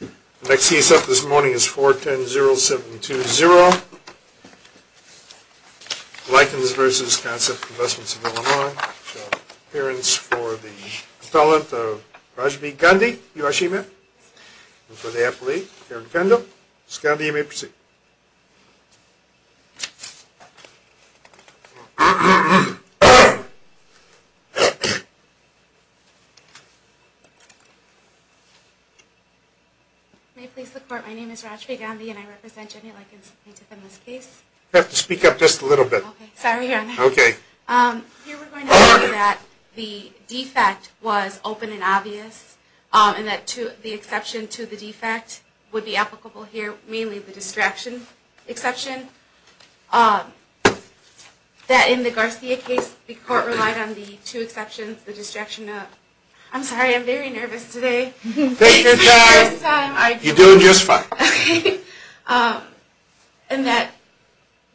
The next case up this morning is 4100720, Likens v. Concept Investments of Illinois. May it please the court, my name is Rajvi Gandhi and I represent Jenny Likens, plaintiff in this case. You have to speak up just a little bit. Sorry, your honor. Okay. Here we're going to say that the defect was open and obvious, and that the exception to the defect would be applicable here, mainly the distraction exception. That in the Garcia case, the court relied on the two exceptions, the distraction of... I'm sorry, I'm very nervous today. Take your time. You're doing just fine. And that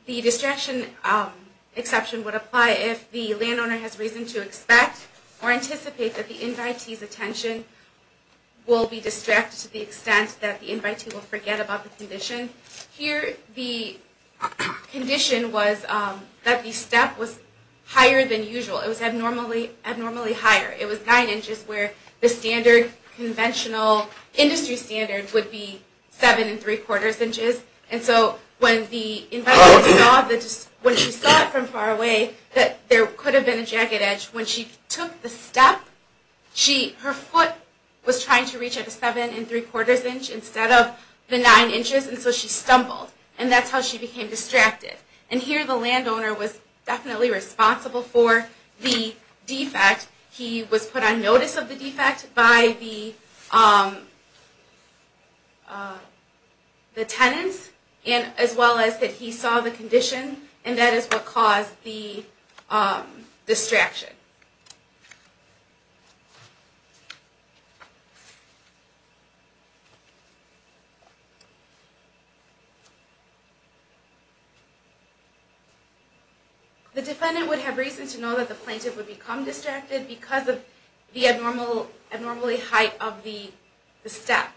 the distraction exception would apply if the landowner has reason to expect or anticipate that the invitee's attention will be distracted to the extent that the invitee will forget about the condition. Here the condition was that the step was higher than usual. It was abnormally higher. It was nine inches where the standard conventional industry standard would be seven and three quarters inches. And so when the invitee saw it from far away that there could have been a jagged edge, when she took the step, her foot was trying to reach at the seven and three quarters inch instead of the nine inches, and so she stumbled. And that's how she became distracted. And here the landowner was definitely responsible for the defect. He was put on notice of the defect by the tenant, as well as that he saw the condition, and that is what caused the distraction. The defendant would have reason to know that the plaintiff would become distracted because of the abnormally height of the step.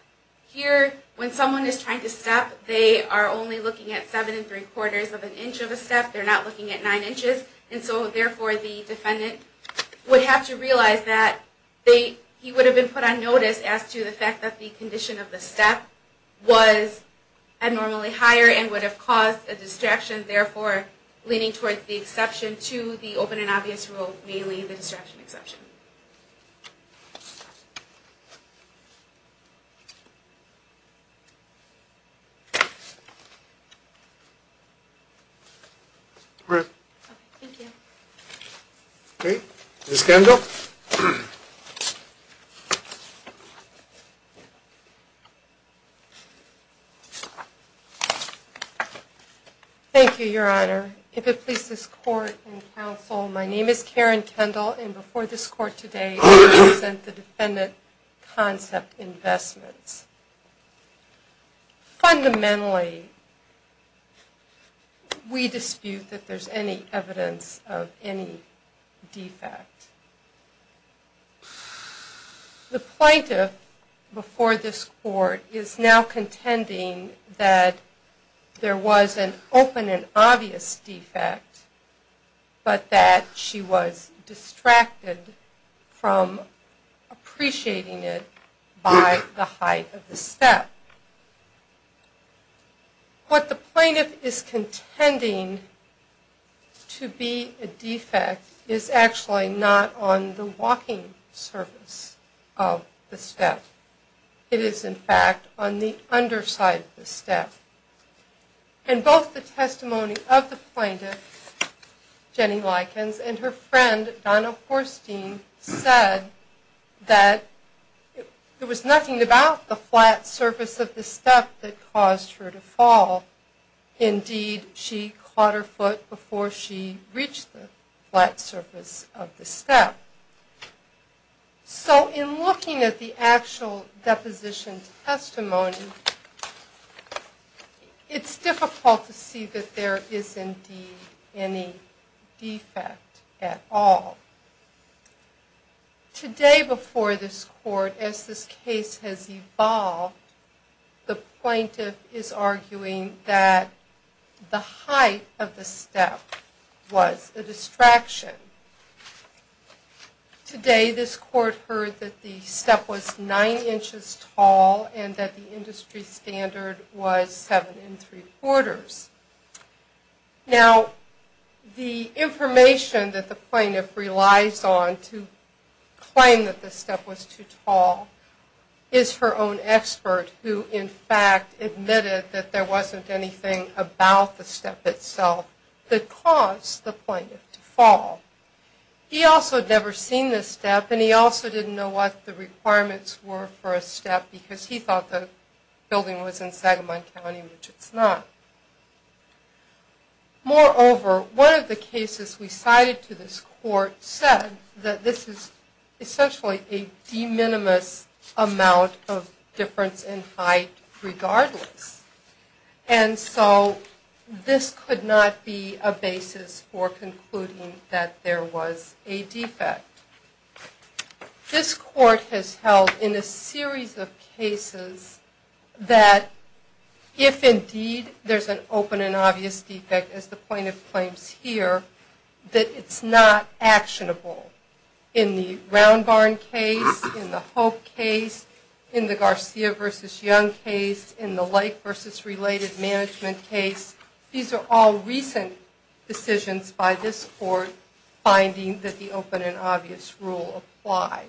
Here, when someone is trying to step, they are only looking at seven and three quarters of an inch of a step. They're not looking at nine inches, and so therefore the defendant would have to realize that he would have been put on notice as to the fact that the condition of the step was abnormally higher and would have caused a distraction, therefore leaning towards the exception to the open and obvious rule, mainly the distraction exception. Ms. Kendall? Thank you, Your Honor. If it pleases the court and counsel, my name is Karen Kendall, and before this court is adjourned, I would like to present the defendant concept investments. Fundamentally, we dispute that there's any evidence of any defect. The plaintiff before this court is now contending that there was an open and obvious defect, but that she was distracted from appreciating it by the height of the step. What the plaintiff is contending to be a defect is actually not on the walking surface of the step. It is, in fact, on the underside of the step. And both the testimony of the plaintiff, Jenny Likens, and her friend, Donna Horstein, said that there was nothing about the flat surface of the step that caused her to fall. Indeed, she caught her foot before she reached the flat surface of the step. So, in looking at the actual deposition testimony, it's difficult to see that there is indeed any defect at all. Today, before this court, as this case has evolved, the plaintiff is arguing that the height of the step was a distraction. Today, this court heard that the step was nine inches tall and that the industry standard was seven and three quarters. Now, the information that the plaintiff relies on to claim that the step was too tall is her own expert, who, in fact, admitted that there wasn't anything about the step itself that caused the plaintiff to fall. He also had never seen the step and he also didn't know what the requirements were for a step because he thought the building was in Sagamon County, which it's not. Moreover, one of the cases we cited to this court said that this is essentially a de minimis amount of difference in height regardless. And so, this could not be a basis for concluding that there was a defect. This court has held in a series of cases that if indeed there's an open and obvious defect, as the plaintiff claims here, that it's not actionable. In fact, in the Blake v. Related Management case, these are all recent decisions by this court finding that the open and obvious rule applied.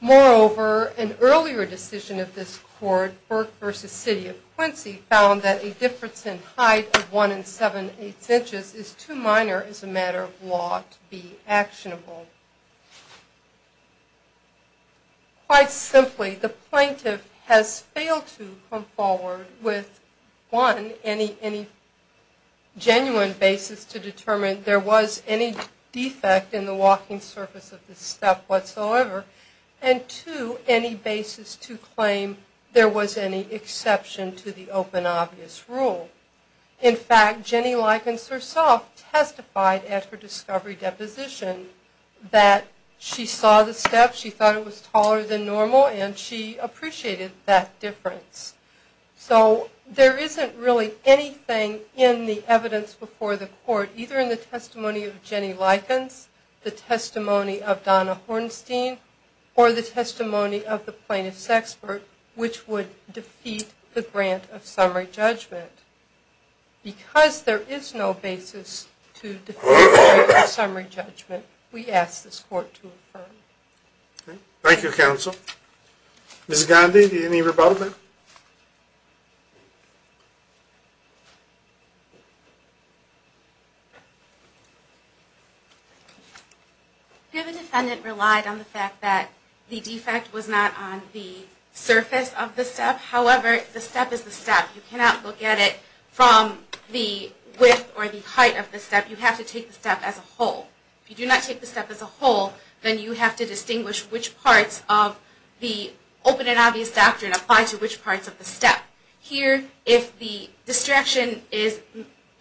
Moreover, an earlier decision of this court, Burke v. City of Quincy, found that a difference in height of one and seven-eighths inches is too minor as a matter of law to be actionable. Quite simply, the plaintiff has failed to come forward with one, any genuine basis to determine there was any defect in the walking surface of this step whatsoever, and two, any basis to claim there was any exception to the open obvious rule. In fact, Jenny Likens herself testified at her discovery deposition that she saw the step, she thought it was taller than normal, and she appreciated that difference. So, there isn't really anything in the evidence before the court, either in the testimony of Jenny Likens, the testimony of Donna Hornstein, or the testimony of the plaintiff's expert, which would defeat the grant of summary judgment. Because there is no basis to defeat the grant of summary judgment, we ask this court to affirm. Thank you, counsel. Ms. Gandhi, any rebuttal? The defendant relied on the fact that the defect was not on the surface of the step, however, the step is the step. You cannot look at it from the width or the height of the step. You have to take the step as a whole. If you do not take the step as a whole, then you have to distinguish which parts of the open and obvious doctrine apply to which parts of the step. Here, if the distraction is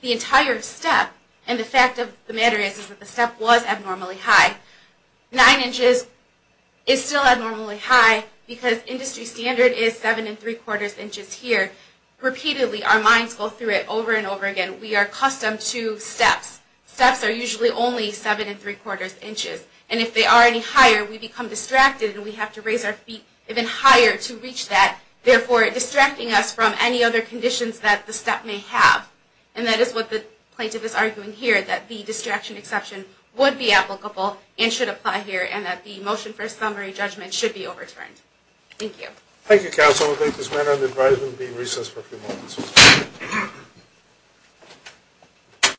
the entire step, and the fact of the matter is that the step was abnormally high, nine inches is still abnormally high, because industry standard is seven and three-quarters inches here. Repeatedly, our minds go through it over and over again. We are accustomed to steps. Steps are usually only seven and three-quarters inches, and if they are any higher, we become distracted, and we have to raise our feet even higher to reach that, therefore distracting us from any other conditions that the step may have. And that is what the plaintiff is arguing here, that the distraction exception would be applicable and should apply here, and that the motion for summary judgment should be overturned. Thank you.